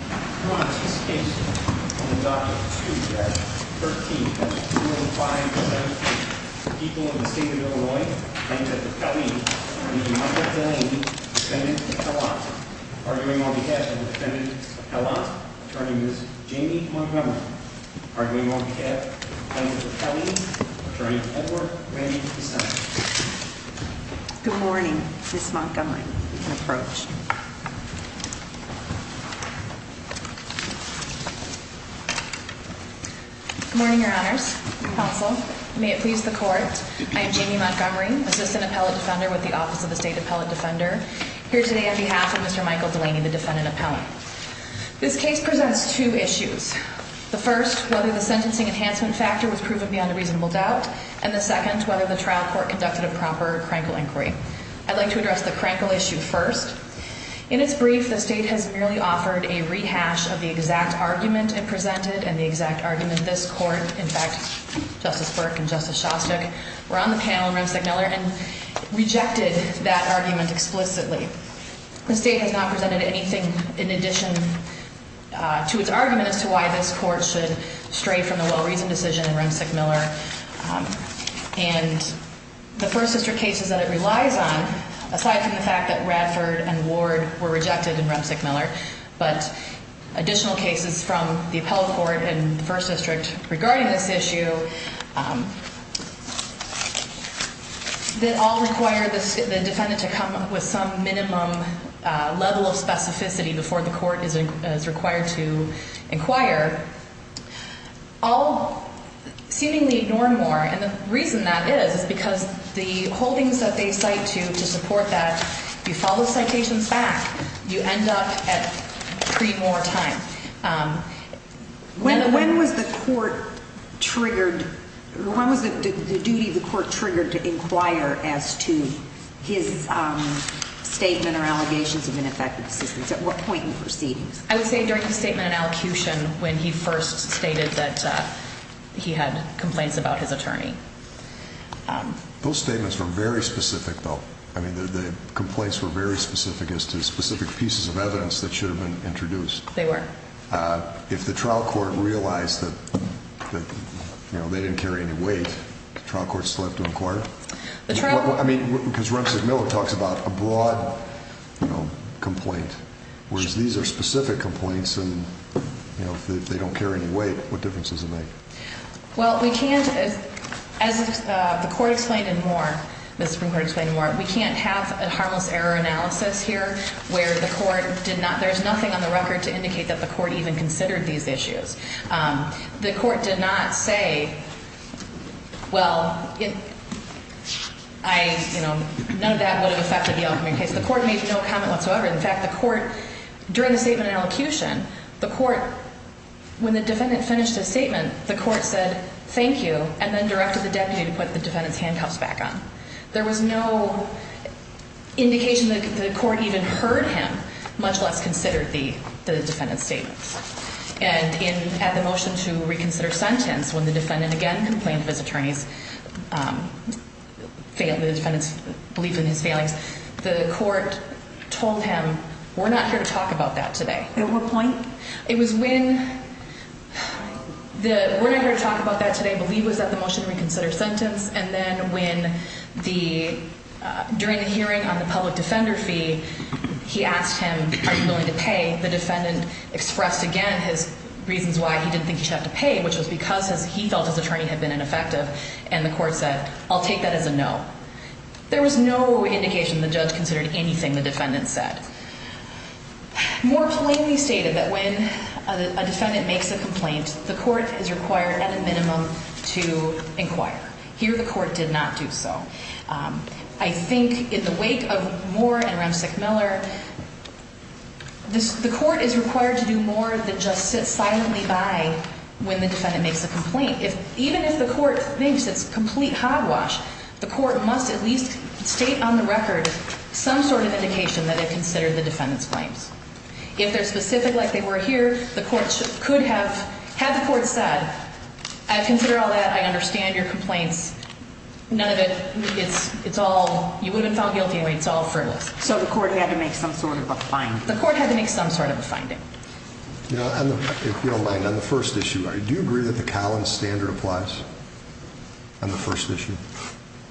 Well, five of Loyal defendant Lady turning with Jamie attorney good morning. Approached Good morning, your honors. May it please the court. I am Jamie Montgomery, assistant appellate defender with the Office of the State Appellate Defender here today on behalf of Mr Michael Delaney, the defendant appellant. This case presents two issues. The first, whether the sentencing enhancement factor was proven beyond a reasonable doubt, and the second, whether the trial court conducted a proper crankle inquiry. I'd like to address the crankle issue first. In its brief, the state has merely offered a rehash of the exact argument and presented and the exact argument. This court, in fact, Justice Burke and Justice Shostak were on the panel, Ramsey Miller and rejected that argument explicitly. The state has not presented anything in addition to its argument as to why this court should stray from the well reasoned decision in Ramsey Miller and the first sister cases that it relies on. Aside from the fact that Radford and Ward were rejected in Ramsey Miller, but additional cases from the appellate court and first district regarding this issue, that all require the defendant to come up with some minimum level of specificity before the court is required to inquire. All seemingly ignore more. And the reason that is is because the holdings that they cite to to support that you follow citations back, you end up at three more time. When when was the court triggered? When was the duty of the court triggered to inquire as to his statement or allegations of ineffective assistance? At what point in proceedings? I would say during the statement and allocution when he first stated that he had complaints about his attorney. Those statements were very specific, though. I mean, the complaints were very specific as to specific pieces of evidence that should have been introduced. They were, uh, if the trial court realized that, you know, they didn't carry any weight. Trial courts left to inquire. I mean, because Ramsey Miller talks about a broad, you know, complaint, whereas these air specific complaints and, you know, if they don't carry any weight, what the court explained and more Mr. Supreme Court explained more. We can't have a harmless error analysis here where the court did not. There's nothing on the record to indicate that the court even considered these issues. Um, the court did not say, well, I know that would have affected the ultimate case. The court made no comment whatsoever. In fact, the court during the statement and elocution, the court when the defendant finished his statement, the put the defendant's handcuffs back on. There was no indication that the court even heard him, much less considered the defendant's statements and in at the motion to reconsider sentence when the defendant again complained of his attorney's, um, failed the defendant's belief in his failings. The court told him we're not here to talk about that today. At what point? It was when the we're not going to talk about that today. I believe was that the motion reconsider sentence. And then when the during the hearing on the public defender fee, he asked him, are you willing to pay? The defendant expressed again his reasons why he didn't think he had to pay, which was because he felt his attorney had been ineffective. And the court said, I'll take that as a no. There was no indication the judge considered anything. The defendant said more plainly stated that when a defendant makes a complaint, the court is required at a minimum to inquire here. The court did not do so. Um, I think in the wake of more and around sick Miller, the court is required to do more than just sit silently by when the defendant makes a complaint. If even if the court thinks it's complete hogwash, the court must at least state on the record some sort of indication that it considered the defendant's claims. If they're specific like they were here, the courts could have had the court said, I consider all that. I understand your complaints. None of it. It's all you wouldn't found guilty. It's all furtile. So the court had to make some sort of a find. The court had to make some sort of a finding. You know, if you don't mind on the first issue, I do agree that the Collins standard applies on the first issue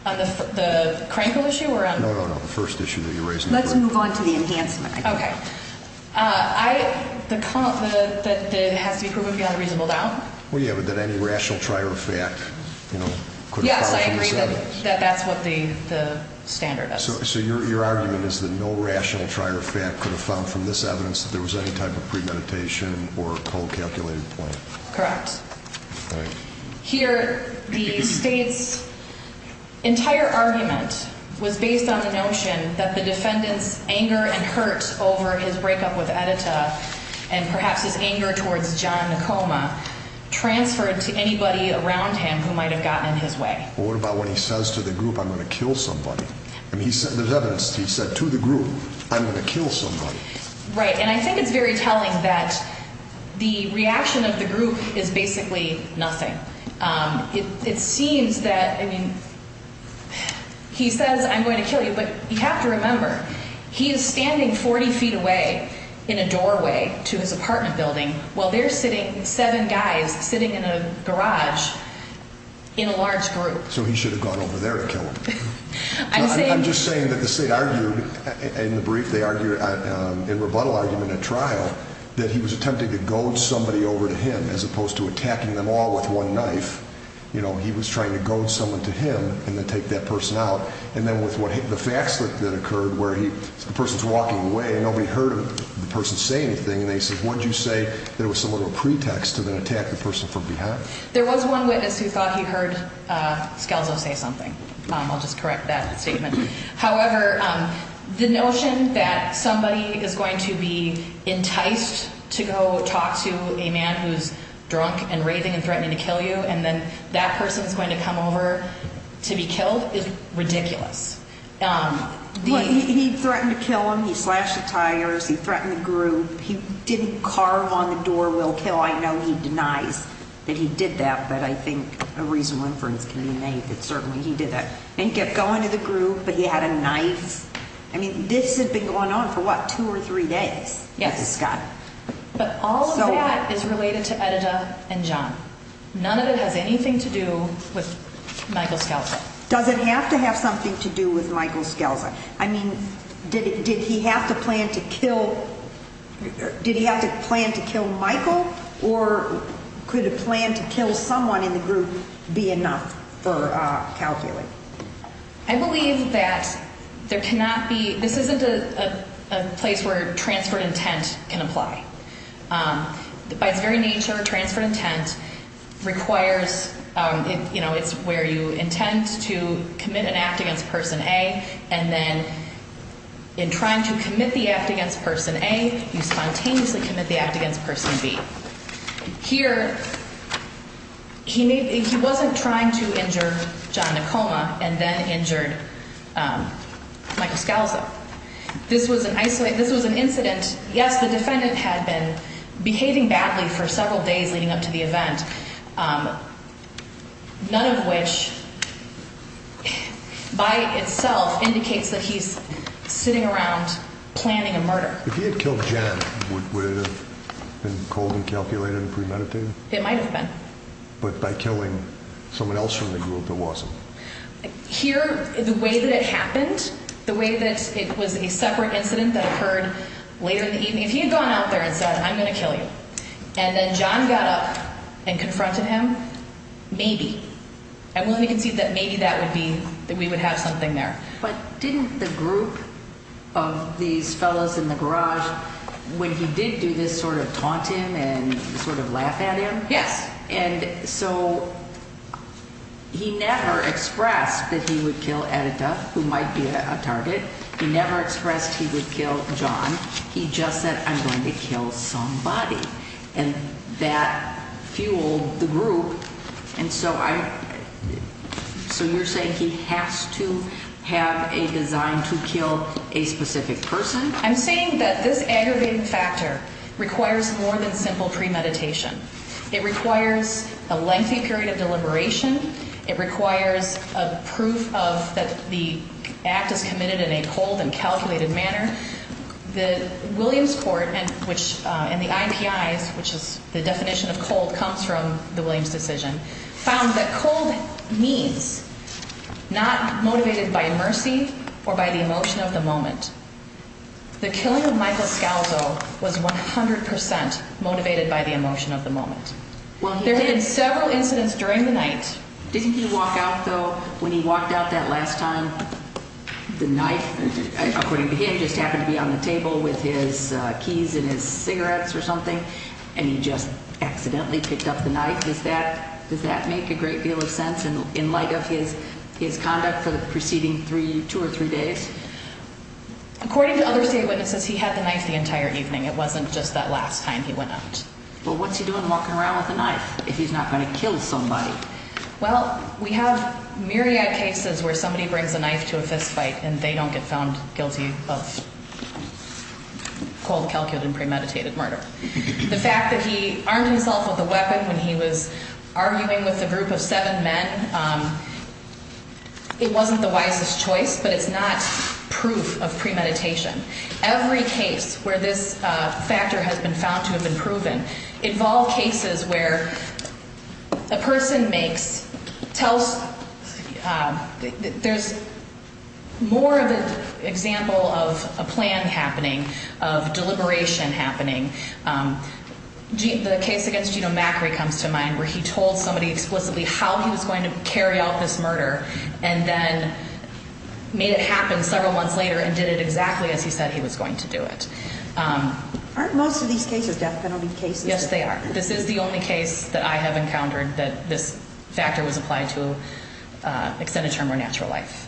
on the crank of issue around the first issue that you that has to be proven beyond reasonable doubt. Well, you have it that any rational trier of fact, you know, yes, I agree that that's what the standard is. So your argument is that no rational trier of fact could have found from this evidence that there was any type of premeditation or cold calculated point. Correct. Here, the state's entire argument was based on the notion that the anger towards john coma transferred to anybody around him who might have gotten in his way. What about when he says to the group, I'm gonna kill somebody. And he said there's evidence, he said to the group, I'm gonna kill somebody. Right. And I think it's very telling that the reaction of the group is basically nothing. Um, it seems that, I mean, he says, I'm going to kill you. But you have to remember, he is standing 40 away in a doorway to his apartment building while they're sitting seven guys sitting in a garage in a large group. So he should have gone over there to kill him. I'm just saying that the state argued in the brief, they argue in rebuttal argument at trial that he was attempting to goad somebody over to him as opposed to attacking them all with one knife. You know, he was trying to goad someone to him and then take that person out. And then with the facts that occurred where he, the person's walking away, nobody heard the person say anything. And they said, what did you say? There was some little pretext to then attack the person from behind. There was one witness who thought he heard, uh, skeletal say something. Mom, I'll just correct that statement. However, um, the notion that somebody is going to be enticed to go talk to a man who's drunk and raving and threatening to kill you. And then that person is going to come over to be killed. It's um, he threatened to kill him. He slashed the tires. He threatened the group. He didn't carve on the door. We'll kill. I know he denies that he did that. But I think a reasonable inference can be made that certainly he did that and kept going to the group. But he had a knife. I mean, this had been going on for what? Two or three days. Yes, Scott. But all of that is related to Edita and john. None of it has anything to do with Michael doesn't have to have something to do with Michael Skelton. I mean, did he have to plan to kill? Did he have to plan to kill Michael? Or could a plan to kill someone in the group be enough for calculating? I believe that there cannot be. This isn't a place where transferred intent can apply. Um, by where you intend to commit an act against Person A. And then in trying to commit the act against Person A, you spontaneously commit the act against Person B. Here he wasn't trying to injure john a coma and then injured, um, Michael Skelton. This was an isolate. This was an incident. Yes, the defendant had been behaving badly for several days leading up to the which by itself indicates that he's sitting around planning a murder. If he had killed Jen, would it have been cold and calculated and premeditated? It might have been. But by killing someone else from the group that wasn't here the way that it happened, the way that it was a separate incident that occurred later in the evening, if he had gone out there and said, I'm gonna kill you. And I'm willing to concede that maybe that would be that we would have something there. But didn't the group of these fellows in the garage when he did do this sort of taunt him and sort of laugh at him? Yes. And so he never expressed that he would kill editor who might be a target. He never expressed he would kill john. He just said, I'm going to kill somebody and that fueled the group. And so I so you're saying he has to have a design to kill a specific person. I'm saying that this aggravated factor requires more than simple premeditation. It requires a lengthy period of deliberation. It requires a proof of that the act is committed in a cold and the definition of cold comes from the Williams decision found that cold means not motivated by mercy or by the emotion of the moment. The killing of Michael Scalzo was 100% motivated by the emotion of the moment. Well, there have been several incidents during the night. Didn't you walk out though when he walked out that last time the knife, according to him, just happened to be on the table with his keys and his cigarettes or something. And he just accidentally picked up the knife. Is that does that make a great deal of sense? And in light of his his conduct for the preceding three, two or three days, according to other state witnesses, he had the knife the entire evening. It wasn't just that last time he went out. Well, what's he doing walking around with a knife if he's not going to kill somebody? Well, we have myriad cases where somebody brings a knife to a fist fight and they don't get found guilty. Well, cold, calculated, premeditated murder. The fact that he armed himself with a weapon when he was arguing with the group of seven men, it wasn't the wisest choice, but it's not proof of premeditation. Every case where this factor has been found to have been proven involve cases where the person makes tells there's more of an example of a plan happening of deliberation happening. Um, the case against, you know, Macri comes to mind where he told somebody explicitly how he was going to carry out this murder and then made it happen several months later and did it exactly as he said he was going to do it. Um, aren't most of these cases death penalty cases? Yes, they are. This is the only case that I have encountered that this factor was applied to extend a term or natural life.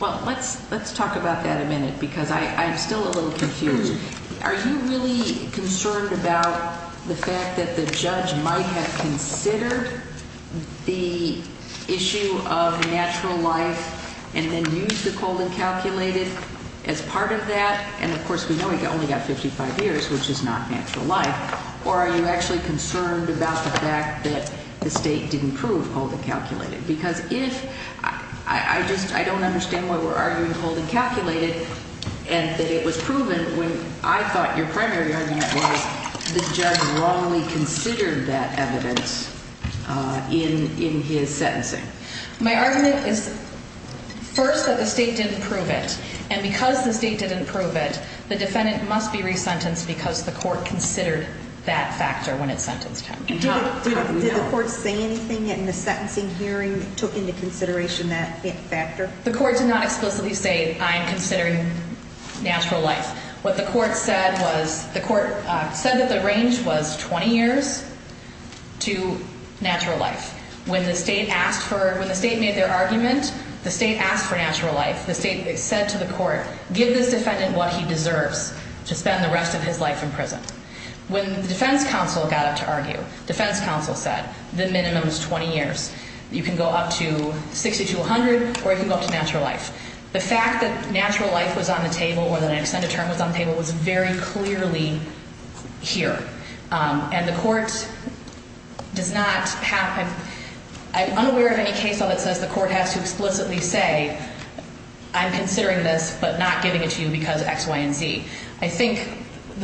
Well, let's let's talk about that a minute because I'm still a little confused. Are you really concerned about the fact that the judge might have considered the issue of natural life and then use the cold and calculated as part of that? And of course, we know we only got 55 years, which is not natural life. Or are you actually concerned about the fact that the state didn't prove holding calculated? Because if I just I don't understand why we're arguing holding calculated and that it was proven when I thought your primary argument was the judge wrongly considered that evidence in his sentencing. My argument is first that the state didn't prove it. And because the state didn't prove it, the defendant must be resentenced because the court anything in the sentencing hearing took into consideration that factor. The court did not explicitly say I'm considering natural life. What the court said was the court said that the range was 20 years to natural life. When the state asked for when the state made their argument, the state asked for natural life. The state said to the court, give this defendant what he deserves to spend the rest of his life in prison. When the defense counsel got to argue, defense counsel said the minimum is 20 years. You can go up to 60 to 100 or you can go up to natural life. The fact that natural life was on the table or that extended term was on the table was very clearly here. Um, and the court does not happen. I'm unaware of any case on that says the court has to explicitly say I'm considering this but not giving it to you because X, Y and Z. I think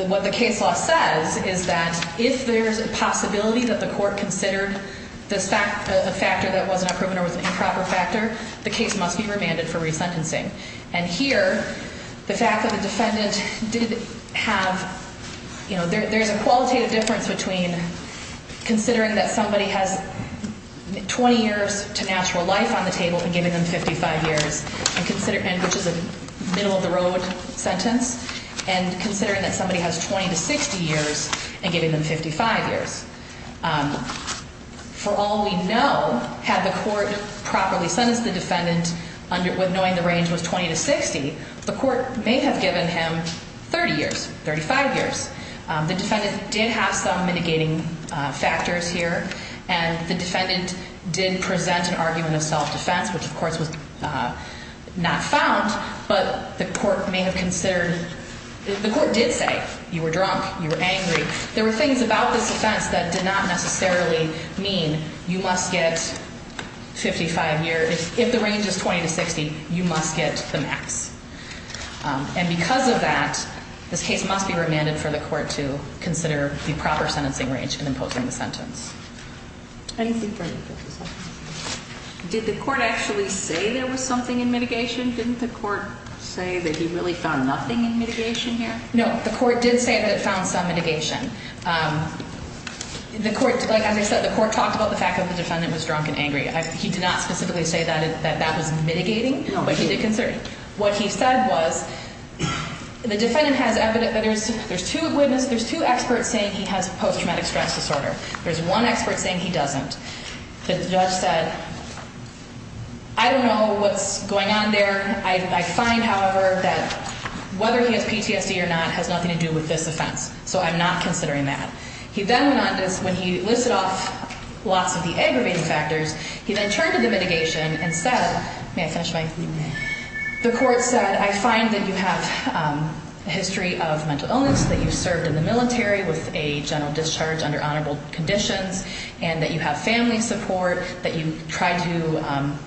what the case law says is that if there's a possibility that the court considered this fact, the factor that wasn't a proven or was improper factor, the case must be remanded for resentencing. And here the fact that the defendant did have, you know, there's a qualitative difference between considering that somebody has 20 years to natural life on the table and giving them 55 years and consider which is a middle of the road sentence and considering that somebody has 20 to 60 years and giving them 55 years. Um, for all we know, had the court properly sentenced the defendant under knowing the range was 20 to 60, the court may have given him 30 years, 35 years. The defendant did have some mitigating factors here and the defendant did present an argument of self-defense, which of course was not found, but the court may have considered, the court did say you were drunk, you were angry, there were things about this offense that did not necessarily mean you must get 55 years. If the range is 20 to 60, you must get the max. And because of that, this case must be remanded for the court to consider the proper sentencing range in did the court actually say there was something in mitigation? Didn't the court say that he really found nothing in mitigation here? No, the court did say that it found some mitigation. Um, the court, like I said, the court talked about the fact that the defendant was drunk and angry. He did not specifically say that that that was mitigating, but he did concern. What he said was the defendant has evident that there's there's two witness, there's two experts saying he has post traumatic stress disorder. There's one expert saying he doesn't. The judge said, I don't know what's going on there. I find, however, that whether he has PTSD or not has nothing to do with this offense. So I'm not considering that. He then went on this when he listed off lots of the aggravating factors. He then turned to the mitigation and said, may I finish my evening? The court said, I find that you have a history of mental illness that you served in the military with a general discharge under honorable conditions and that you have family support that you tried to, um,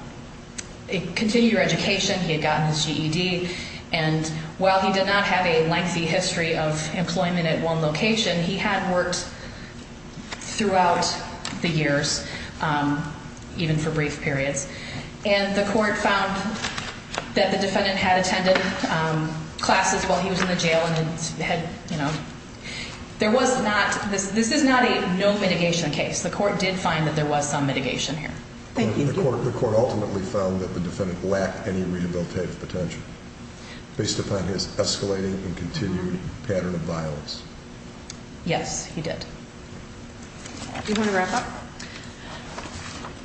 continue your education. He had gotten his G. E. D. And while he did not have a lengthy history of employment at one location, he had worked throughout the years, um, even for brief periods. And the court found that the defendant had attended, um, classes while he was in the jail and had, you know, there was this. This is not a no mitigation case. The court did find that there was some mitigation here. Thank you. The court ultimately found that the defendant lacked any rehabilitative potential based upon his escalating and continued pattern of violence. Yes, he did. You want to wrap up?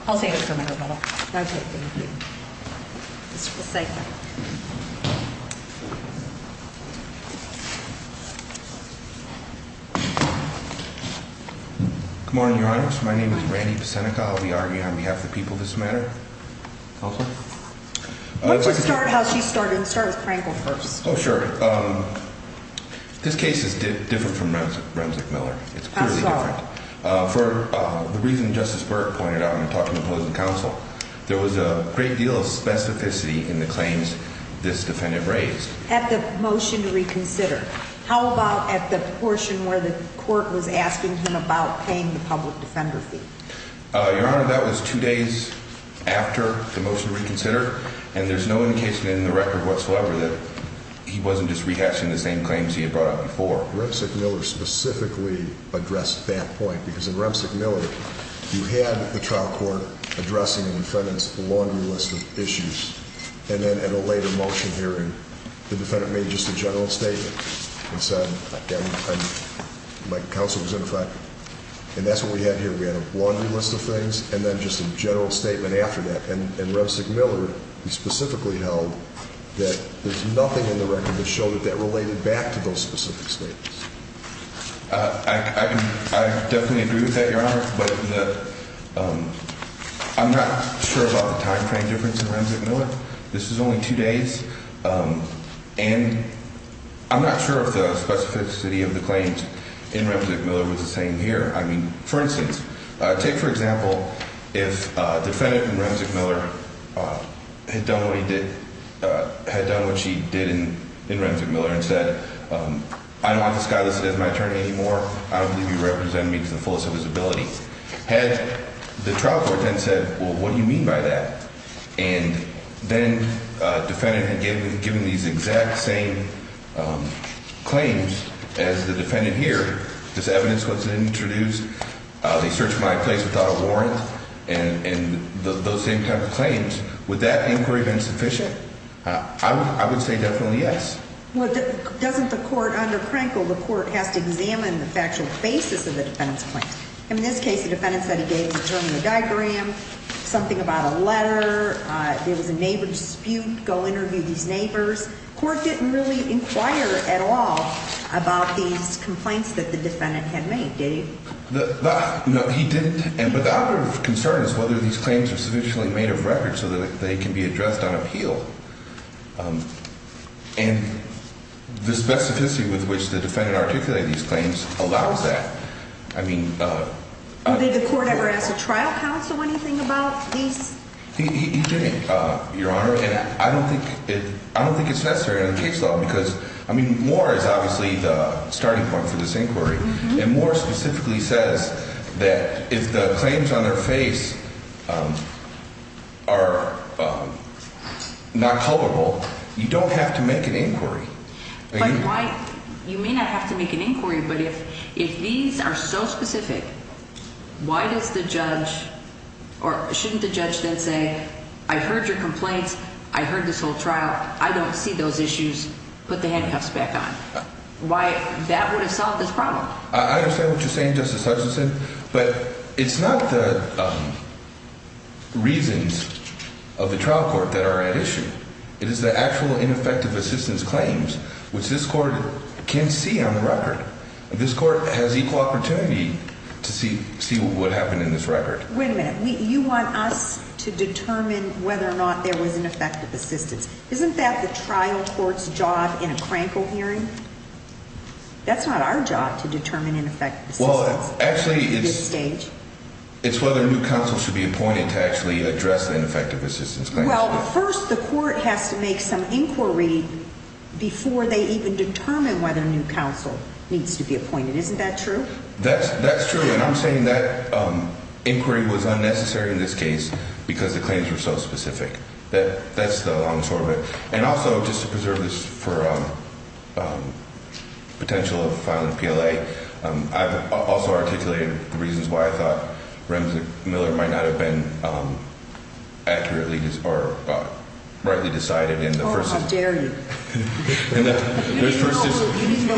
I'll say it for my brother. It's the same. Mhm. Come on. Your honor. My name is Randy. Seneca. I'll be arguing on behalf of the people. This matter. Let's start how she started. Start with Franklin first. Oh, sure. Um, this case is different from Ramsey Miller. It's clearly for the reason Justice Burke pointed out. I'm talking opposing counsel. There was a great deal of specificity in the claims this defendant raised at the motion to court was asking him about paying the public defender fee. Your honor, that was two days after the motion reconsidered, and there's no indication in the record whatsoever that he wasn't just rehashing the same claims he had brought up before. Rimsick Miller specifically addressed that point because in Ramsey Miller, you had the trial court addressing the defendants the laundry list of issues. And then at a later motion hearing, the defendant made just a general statement and said my counsel was in fact, and that's what we had here. We had a laundry list of things and then just a general statement after that. And Rimsick Miller specifically held that there's nothing in the record that showed that that related back to those specific states. I definitely agree with that, Your Honor. But I'm not sure about the time frame difference in Ramsey Miller. This is only two days. Um, and I'm not sure if the specificity of the claims in Ramsey Miller was the same here. I mean, for instance, take, for example, if defendant in Ramsey Miller, uh, had done what he did, had done what she did in in Ramsey Miller and said, um, I don't want this guy listed as my attorney anymore. I don't believe you represent me to the fullest of his ability. Had the trial court then said, Well, what do you mean by that? And then defendant had given given these exact same, um, claims as the defendant here. This evidence was introduced. They search my place without a warrant. And those same type of claims with that inquiry been sufficient? I would say definitely yes. Well, doesn't the court under Crankle, the court has to examine the factual basis of the defendant's claim. In this case, the defendant said during the diagram, something about a letter. There was a neighbor dispute. Go interview these neighbors. Court didn't really inquire at all about these complaints that the defendant had made. Did you? No, he didn't. And but the other concern is whether these claims are sufficiently made of record so that they can be addressed on appeal. Um, and the specificity with which the defendant articulate these claims allows that. I mean, uh, did the court ever ask the trial counsel anything about these? He didn't, Your Honor. And I don't think I don't think it's necessary in case long because I mean, more is obviously the starting point for this inquiry and more specifically says that if the claims on their face, are not culpable, you don't have to make an inquiry. Why? You may not have to make an inquiry. But if if these are so specific, why does the judge or shouldn't the judge then say? I heard your complaints. I heard this whole trial. I don't see those issues. Put the handcuffs back on. Why? That would have solved this problem. I understand what you're saying, Justice Hutchinson. But it's not the reasons of the trial court that are at issue. It is the actual ineffective assistance claims, which this court can see on the record. This court has equal opportunity to see see what happened in this record. Wait a minute. You want us to determine whether or not there was an effective assistance. Isn't that the trial court's job in a crankle hearing? That's not our job to determine in effect. Well, actually, it's stage. It's whether new counsel should be appointed to actually address the effective assistance. Well, first, the court has to make some inquiry before they even determine whether a new counsel needs to be appointed. Isn't that true? That's that's true. And I'm saying that inquiry was unnecessary in this case because the claims were so specific that that's the long sort of it. And also just to preserve this for, um, potential of filing P. L. A. Um, I've also articulated the reasons why I think Miller might not have been, um, accurately or rightly decided in the first. How dare you? And then there's versus no,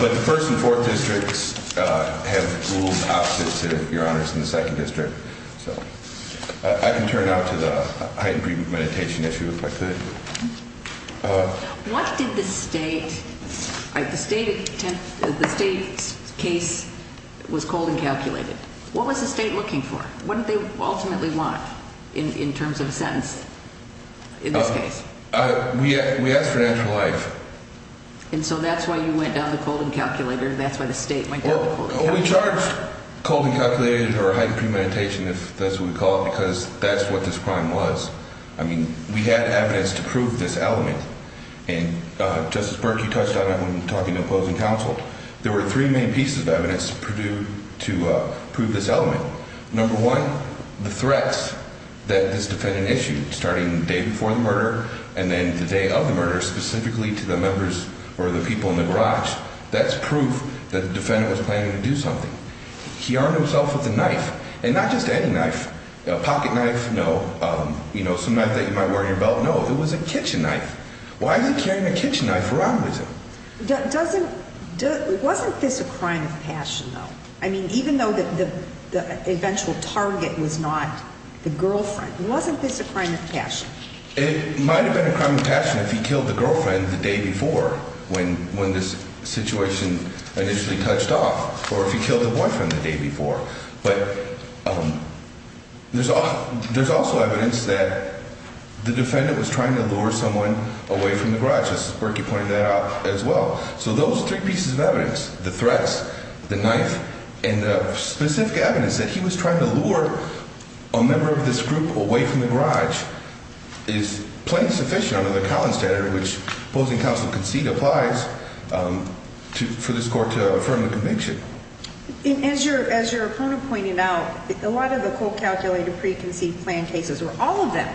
but the 1st and 4th districts have ruled opposite to your honors in the second district. So I can turn out to the heightened agreement meditation issue if I could. Uh, what did the state like the state? The state case was cold and calculated. What was the state looking for? What did they ultimately want in terms of sense? In this case, we asked for natural life. And so that's why you went down the cold and calculator. That's why the state went down. We charged cold and calculated or heightened premeditation, if that's what we call it, because that's what this crime was. I mean, we had evidence to prove this element. And, uh, Justice Burke, you touched on it when talking to opposing counsel. There were three main pieces of evidence Purdue to prove this element. Number one, the threats that this defendant issued starting day before the murder and then the day of the murder, specifically to the members or the people in the garage. That's proof that the defendant was planning to do something. He armed himself with a knife and not just any knife pocket knife. No, you know, some night that you might wear your belt. No, it was a kitchen knife. Why are you carrying a kitchen knife around with him? Doesn't wasn't this a crime of passion, though? I mean, even though that the eventual target was not the girlfriend, wasn't this a crime of passion? It might have been a crime of passion if he killed the girlfriend the day before, when when this situation initially touched off or if he killed the boyfriend the day before. But, um, there's a there's also evidence that the defendant was trying to lure someone away from the garage is working pointed out as well. So those three pieces of evidence, the threats, the knife and specific evidence that he was trying to lure a member of this group away from the garage is plain sufficient under the Collins standard, which opposing counsel concede applies, um, for this court to affirm the conviction. As your as your opponent pointed out, a lot of the cold calculated preconceived plan cases were all of them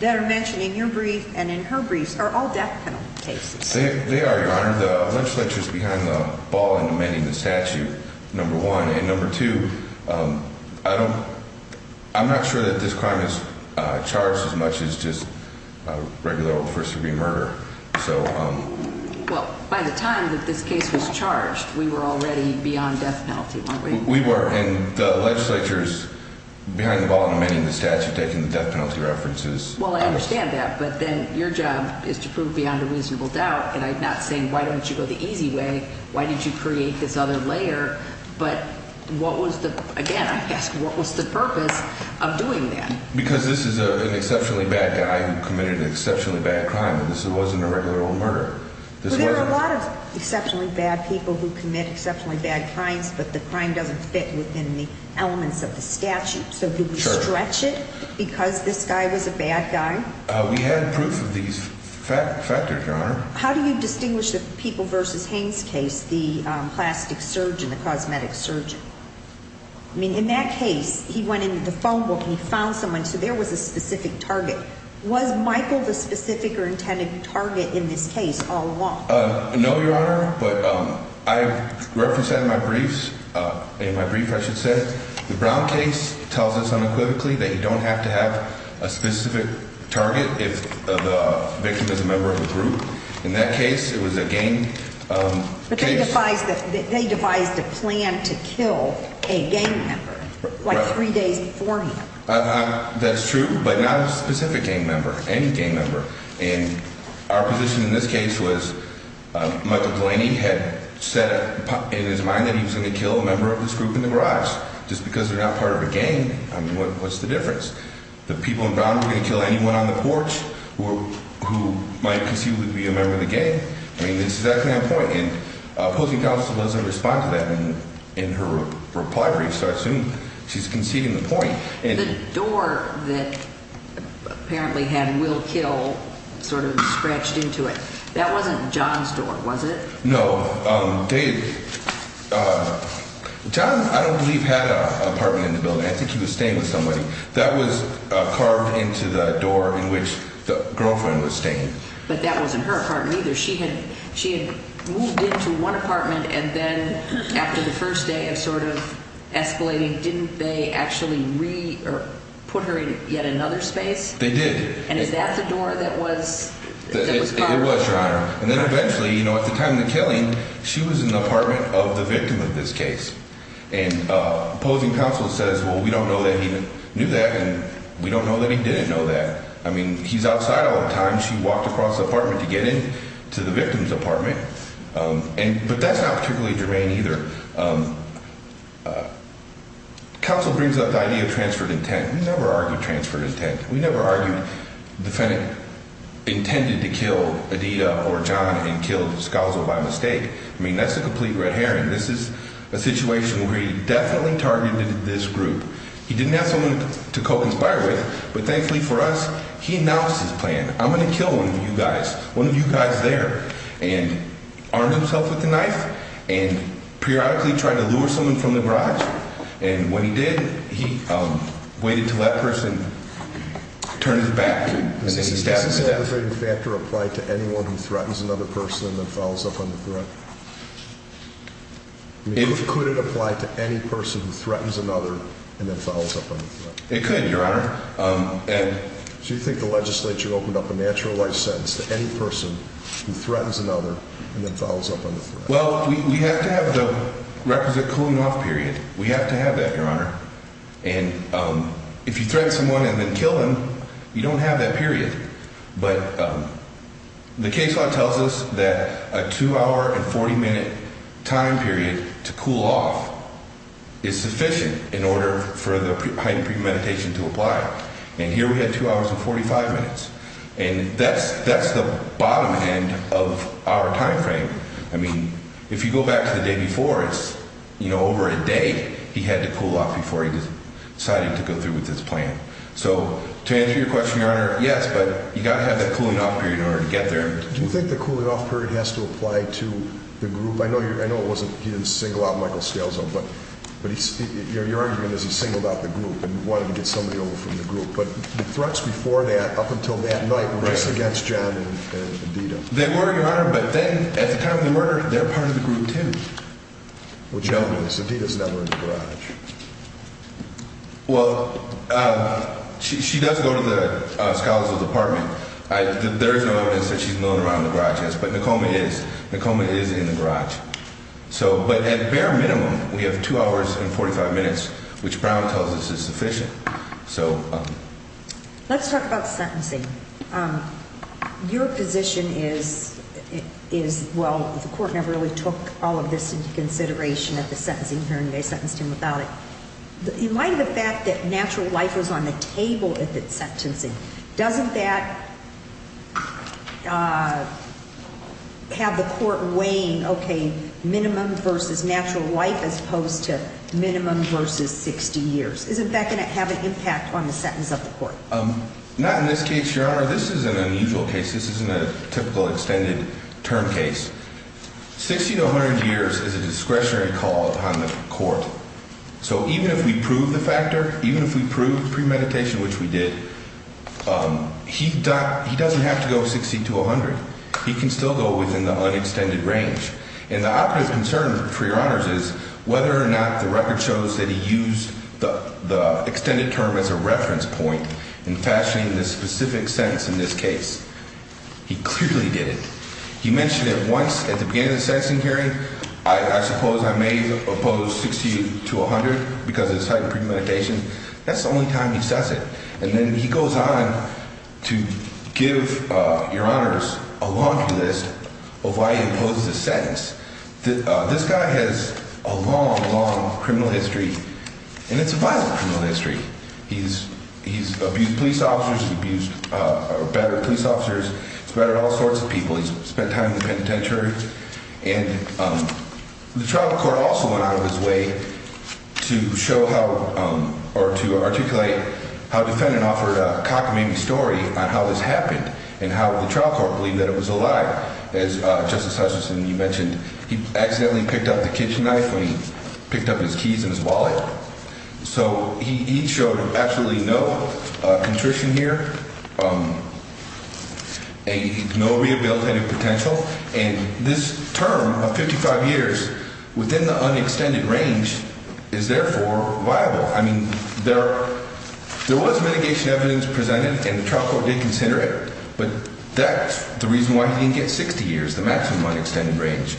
that are mentioned in your brief and in her briefs are all death penalty cases. They are your honor. The legislature is behind the ball and amending the statute number one and number two. Um, I don't I'm not sure that this crime is charged as much as just regular old first degree murder. So, um, well, by the time that this case was charged, we were already beyond death penalty. We were in the the statute taking the death penalty references. Well, I understand that. But then your job is to prove beyond a reasonable doubt. And I'm not saying why don't you go the easy way? Why did you create this other layer? But what was the again? What was the purpose of doing that? Because this is an exceptionally bad guy who committed an exceptionally bad crime. This wasn't a regular old murder. There's a lot of exceptionally bad people who commit exceptionally bad crimes, but the crime doesn't fit within the elements of the stretch it because this guy was a bad guy. We had proof of these factors. How do you distinguish the people versus Haynes case? The plastic surgeon, the cosmetic surgeon. I mean, in that case, he went into the phone book and he found someone. So there was a specific target. Was Michael the specific or intended target in this case? All along? No, Your Honor. But I referenced in my briefs in my brief, I tells us unequivocally that you don't have to have a specific target. If the victim is a member of the group in that case, it was a game. But they devised that they devised a plan to kill a gang member like three days before. That's true, but not a specific game member, any game member. And our position in this case was Michael Delaney had said in his mind that he was gonna kill a group in the garage just because they're not part of a game. What's the difference? The people in Brown were gonna kill anyone on the porch who might conceivably be a member of the game. I mean, this is that kind of point. And opposing counsel doesn't respond to that in her reply brief. So I assume she's conceding the point. The door that apparently had will kill sort of scratched into it. That wasn't John's door, was it? No, Dave, uh, John, I don't believe had a apartment in the building. I think he was staying with somebody that was carved into the door in which the girlfriend was staying. But that wasn't her apartment either. She had. She had moved into one apartment and then after the first day of sort of escalating, didn't they actually re put her in yet another space? They did. And is that the door that was? It was, Your Honor. And then eventually, you know, at the time of the killing, she was in the apartment of the victim of this case. And, uh, opposing counsel says, Well, we don't know that he knew that. And we don't know that he didn't know that. I mean, he's outside all the time. She walked across the apartment to get into the victim's apartment. Um, and but that's not particularly germane either. Um, counsel brings up the idea of transferred intent. We never argued transferred intent. We never argued defendant intended to kill Adida or John and killed Scouser by mistake. I mean, that's a complete red herring. This is a situation where he definitely targeted this group. He didn't have someone to co conspire with. But thankfully for us, he announced his plan. I'm gonna kill one of you guys. One of you guys there and armed himself with the knife and periodically trying to lure someone from the garage. And when he did, he waited to let person turn his back. This is a devastating factor applied to anyone who threatens another person and then follows up on the threat. If could it apply to any person who threatens another and then follows up on it could, Your Honor. Um, and do you think the Legislature opened up a natural life sentence to any person who threatens another and then follows up Well, we have to have the requisite cooling off period. We have to have that, Your Honor. And, um, if you threaten someone and then kill him, you don't have that period. But, um, the case law tells us that a two hour and 40 minute time period to cool off is sufficient in order for the height of premeditation to apply. And here we had two hours and 45 minutes, and that's that's the bottom end of our time frame. I mean, if you go back to the day before us, you know, over a day he had to cool off before he decided to go through with his plan. So to answer your question, Your Honor, yes, but you gotta have the cooling off period in order to get there. Do you think the cooling off period has to apply to the group? I know I know it wasn't his single out Michael scales up, but but your argument is he singled out the group and wanted to get somebody over from the group. But the threats before that, up until that night race against John, they were, Your Honor. But then at the time of the murder, they're part of the group, too. Well, gentlemen, Sandita's never in the garage. Well, uh, she does go to the scholars of the apartment. There's no evidence that she's moving around the garage. Yes, but the Coleman is the Coleman is in the garage. So but at bare minimum, we have two hours and 45 minutes, which let's talk about sentencing. Um, your position is is well, the court never really took all of this into consideration at the sentencing hearing. They sentenced him without it. In light of the fact that natural life was on the table at that sentencing, doesn't that uh, have the court weighing? Okay, minimum versus natural life as opposed to minimum versus 60 years. Isn't that going to have an impact on the sentence of the court? Um, not in this case, Your Honor. This is an unusual case. This isn't a typical extended term case. 60 to 100 years is a discretionary call on the court. So even if we prove the factor, even if we proved pre meditation, which we did, um, he he doesn't have to go 60 to 100. He can still go within the unextended range. And the operative concern for your honors is whether or not the record shows that he used the extended term as a reference point in fashioning this specific sense. In this case, he clearly did it. He mentioned it once at the beginning of the sentencing hearing. I suppose I may oppose 60 to 100 because it's heightened premeditation. That's the only time he says it. And then he goes on to give your honors a long list of why he opposes the sentence. This guy has a long, long criminal history, and it's a violent criminal history. He's he's abused police officers, abused, uh, better police officers. It's better all sorts of people. He's spent time in the penitentiary, and, um, the trial court also went out of his way to show how or to articulate how defendant offered a cockamamie story on how this happened and how the trial court believed that it was a lie. As Justice Hutchinson, you mentioned he accidentally picked up the kitchen knife when he picked up his keys in his wallet. So he showed absolutely no contrition here. Um, no rehabilitative potential. And this term of 55 years within the unextended range is therefore viable. I mean, there there was mitigation evidence presented, and the trial court did consider it. But that's the reason why you get 60 years, the maximum unextended range.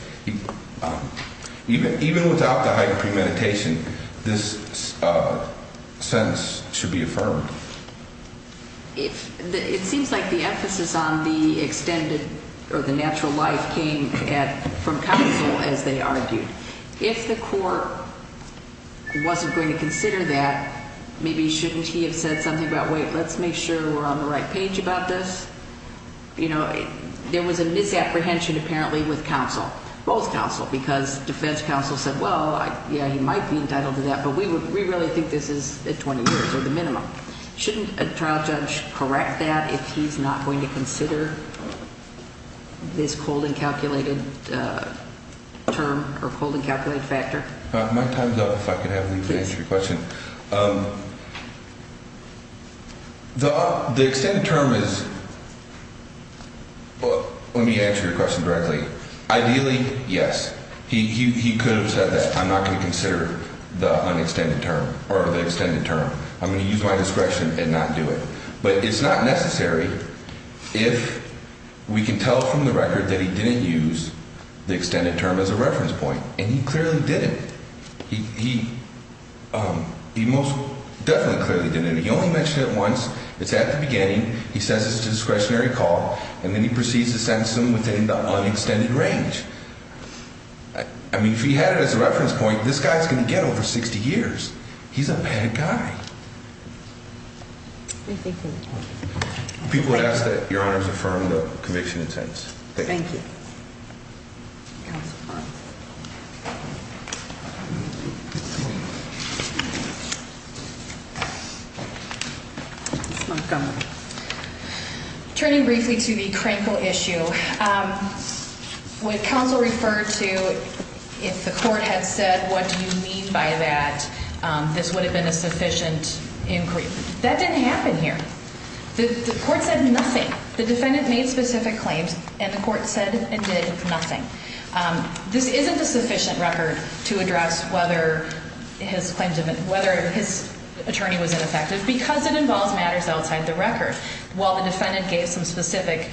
Even even without the hyper premeditation, this, uh, sense should be affirmed. If it seems like the emphasis on the extended or the natural life came from counsel, as they argued, if the court wasn't going to consider that, maybe shouldn't he have said something about Wait, let's make sure we're on the right page about this. You know, there was a misapprehension apparently with counsel, both counsel because defense counsel said, Well, yeah, he might be entitled to that. But we would we really think this is 20 years or the minimum. Shouldn't a trial judge correct that if he's not going to consider this cold and calculated, uh, term or cold and calculated factor? My time's up. If I could have the question, um, the extended term is well, let me answer your question directly. Ideally, yes, he could have said that I'm not going to consider the unextended term or the extended term. I'm gonna use my discretion and not do it. But it's not necessary if we can tell from the record that he didn't use the extended term as a reference point, and he clearly didn't. He he most definitely clearly didn't. He only mentioned it once. It's at the beginning. He says it's discretionary call, and then he proceeds to sentence them within the unextended range. I mean, if he had it as a reference point, this guy's gonna get over 60 years. He's a bad guy. Thank you. People ask that your honors affirmed conviction. Intense. Thank you. Thank you. Montgomery turning briefly to the crankle issue. Um, what council referred to? If the court had said, What do you mean by that? This would have been a sufficient inquiry. That didn't happen here. The court said nothing. The defendant made specific claims, and the court said and did nothing. Um, this isn't a his attorney was ineffective because it involves matters outside the record. While the defendant gave some specific,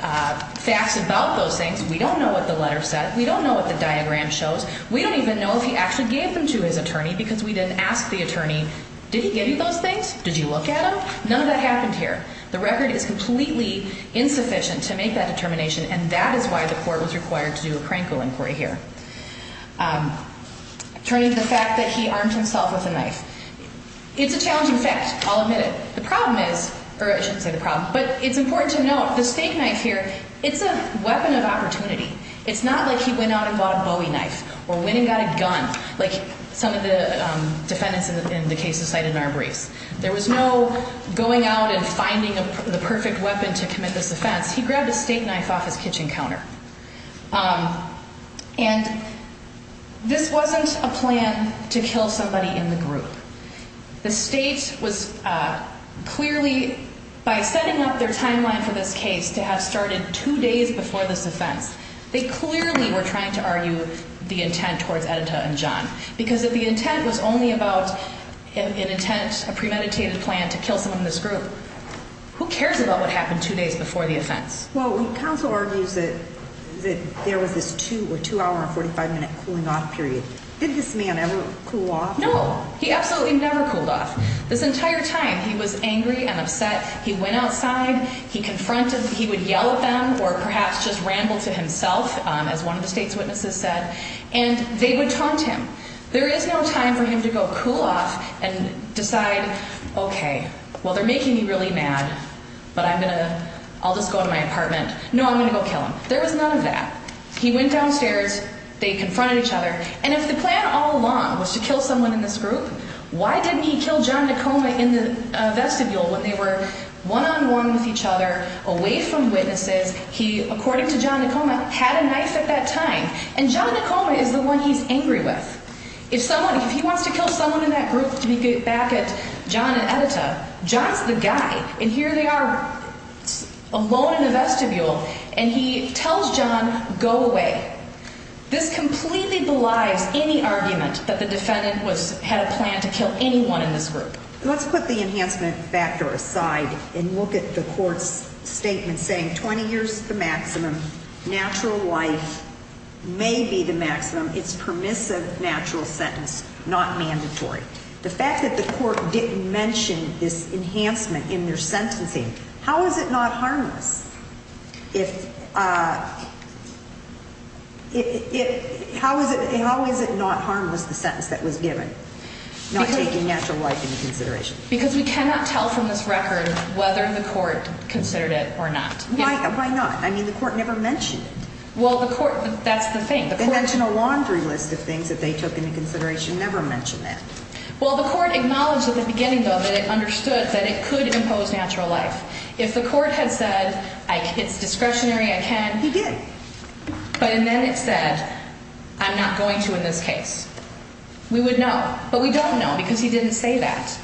uh, facts about those things, we don't know what the letter said. We don't know what the diagram shows. We don't even know if he actually gave them to his attorney because we didn't ask the attorney. Did he give you those things? Did you look at him? None of that happened here. The record is completely insufficient to make that determination, and that is why the court was required to do a crankle inquiry here. Um, turning to the fact that he armed himself with a knife. It's a challenging fact. I'll admit it. The problem is, or I shouldn't say the problem, but it's important to know the state knife here. It's a weapon of opportunity. It's not like he went out and bought a Bowie knife or winning. Got a gun like some of the defendants in the case of cited in our briefs. There was no going out and finding the perfect weapon to commit this offense. He grabbed a state knife off his kitchen counter. Um, and this wasn't a plan to kill somebody in the group. The state was, uh, clearly by setting up their timeline for this case to have started two days before this offense, they clearly were trying to argue the intent towards Edita and John because of the intent was only about an intent, a premeditated plan to kill someone in this group. Who cares about what happened two days before the offense? Well, we counsel argues that there was this two or two hour 45 minute cooling off period. Did this man ever cool off? No, he absolutely never cooled off this entire time. He was angry and upset. He went outside, he confronted, he would yell at them or perhaps just rambled to himself as one of the state's witnesses said, and they would taunt him. There is no time for him to go cool off and decide. Okay, well, they're making me really mad, but I'm gonna, I'll just go to my apartment. No, I'm gonna go kill him. There was none of that. He went downstairs, they confronted each other. And if the plan all along was to kill someone in this group, why didn't he kill John Tacoma in the vestibule when they were one on one with each other away from witnesses? He, according to John Tacoma, had a knife at that time, and John Tacoma is the one he's angry with. If someone, if he wants to kill someone in that group to be back at John's the guy and here they are alone in the vestibule and he tells John go away. This completely belies any argument that the defendant was had a plan to kill anyone in this group. Let's put the enhancement factor aside and look at the court's statement saying 20 years, the maximum natural life may be the maximum. It's permissive, natural sentence, not mandatory. The fact that the court didn't mention this enhancement in their sentencing. How is it not harmless? If, uh, it, how is it? How is it not harmless? The sentence that was given not taking natural life into consideration because we cannot tell from this record whether the court considered it or not. Why? Why not? I mean, the court never mentioned. Well, the court, that's the thing. They mentioned a laundry list of things that they took into consideration. Never mentioned that. Well, the court acknowledged at the beginning, though, that it understood that it could impose natural life. If the court had said it's discretionary, I can. He did. But and then it said, I'm not going to in this case. We would know, but we don't know because he didn't say that.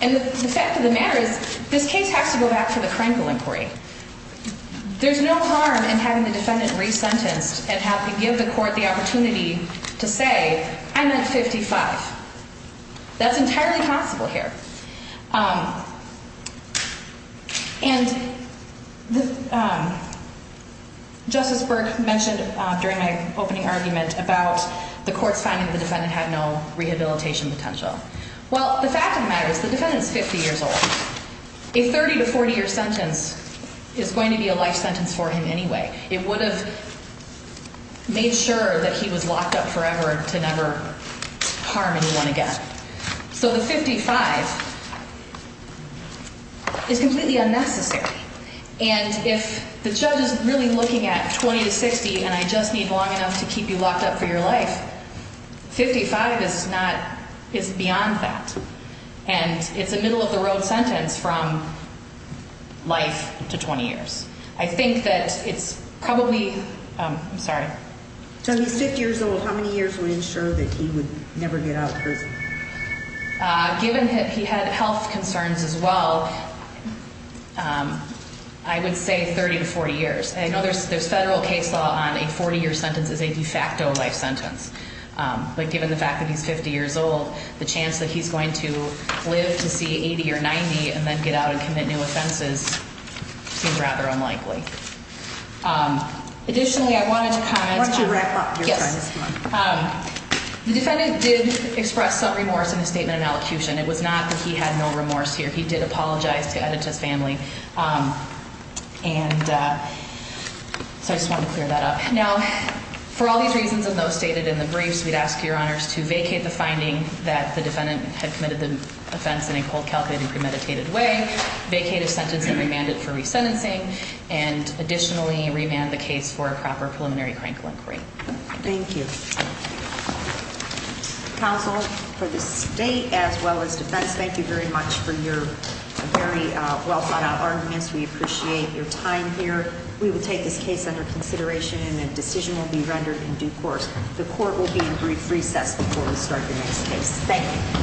And the fact of the matter is, this case has to go back to the crinkle inquiry. There's no harm in having the defendant re sentenced and have to give the court the that's entirely possible here. Um, and Justice Burke mentioned during my opening argument about the court's finding the defendant had no rehabilitation potential. Well, the fact of the matter is the defendant's 50 years old. A 30 to 40 year sentence is going to be a life sentence for him anyway. It would have made sure that he was locked up forever to never harm anyone again. So the 55 is completely unnecessary. And if the judge is really looking at 20 to 60 and I just need long enough to keep you locked up for your life, 55 is not is beyond that. And it's a middle of the road sentence from life to 20 years. I think that it's probably, I'm sorry. So he's 50 years old. How many years will ensure that he would never get out of prison? Given that he had health concerns as well. I would say 30 to 40 years. I know there's there's federal case law on a 40 year sentence is a de facto life sentence. But given the fact that he's 50 years old, the chance that he's going to live to see 80 or 90 and then get out and commit new offenses seems rather unlikely. Um, additionally, I wanted to comment to wrap up. Yes. Um, the defendant did express some remorse in the statement and allocution. It was not that he had no remorse here. He did apologize to edit his family. Um, and uh, so I just want to clear that up now for all these reasons and those stated in the briefs, we'd ask your honors to vacate the finding that the defendant had committed the offense in a cold calculating premeditated way, vacate a sentence and remanded for resentencing. And additionally, remand the case for a proper preliminary crankle inquiry. Thank you counsel for the state as well as defense. Thank you very much for your very well thought out arguments. We appreciate your time here. We will take this case under consideration and a decision will be rendered in due course. The court will be in brief recess before we start the next case. Thank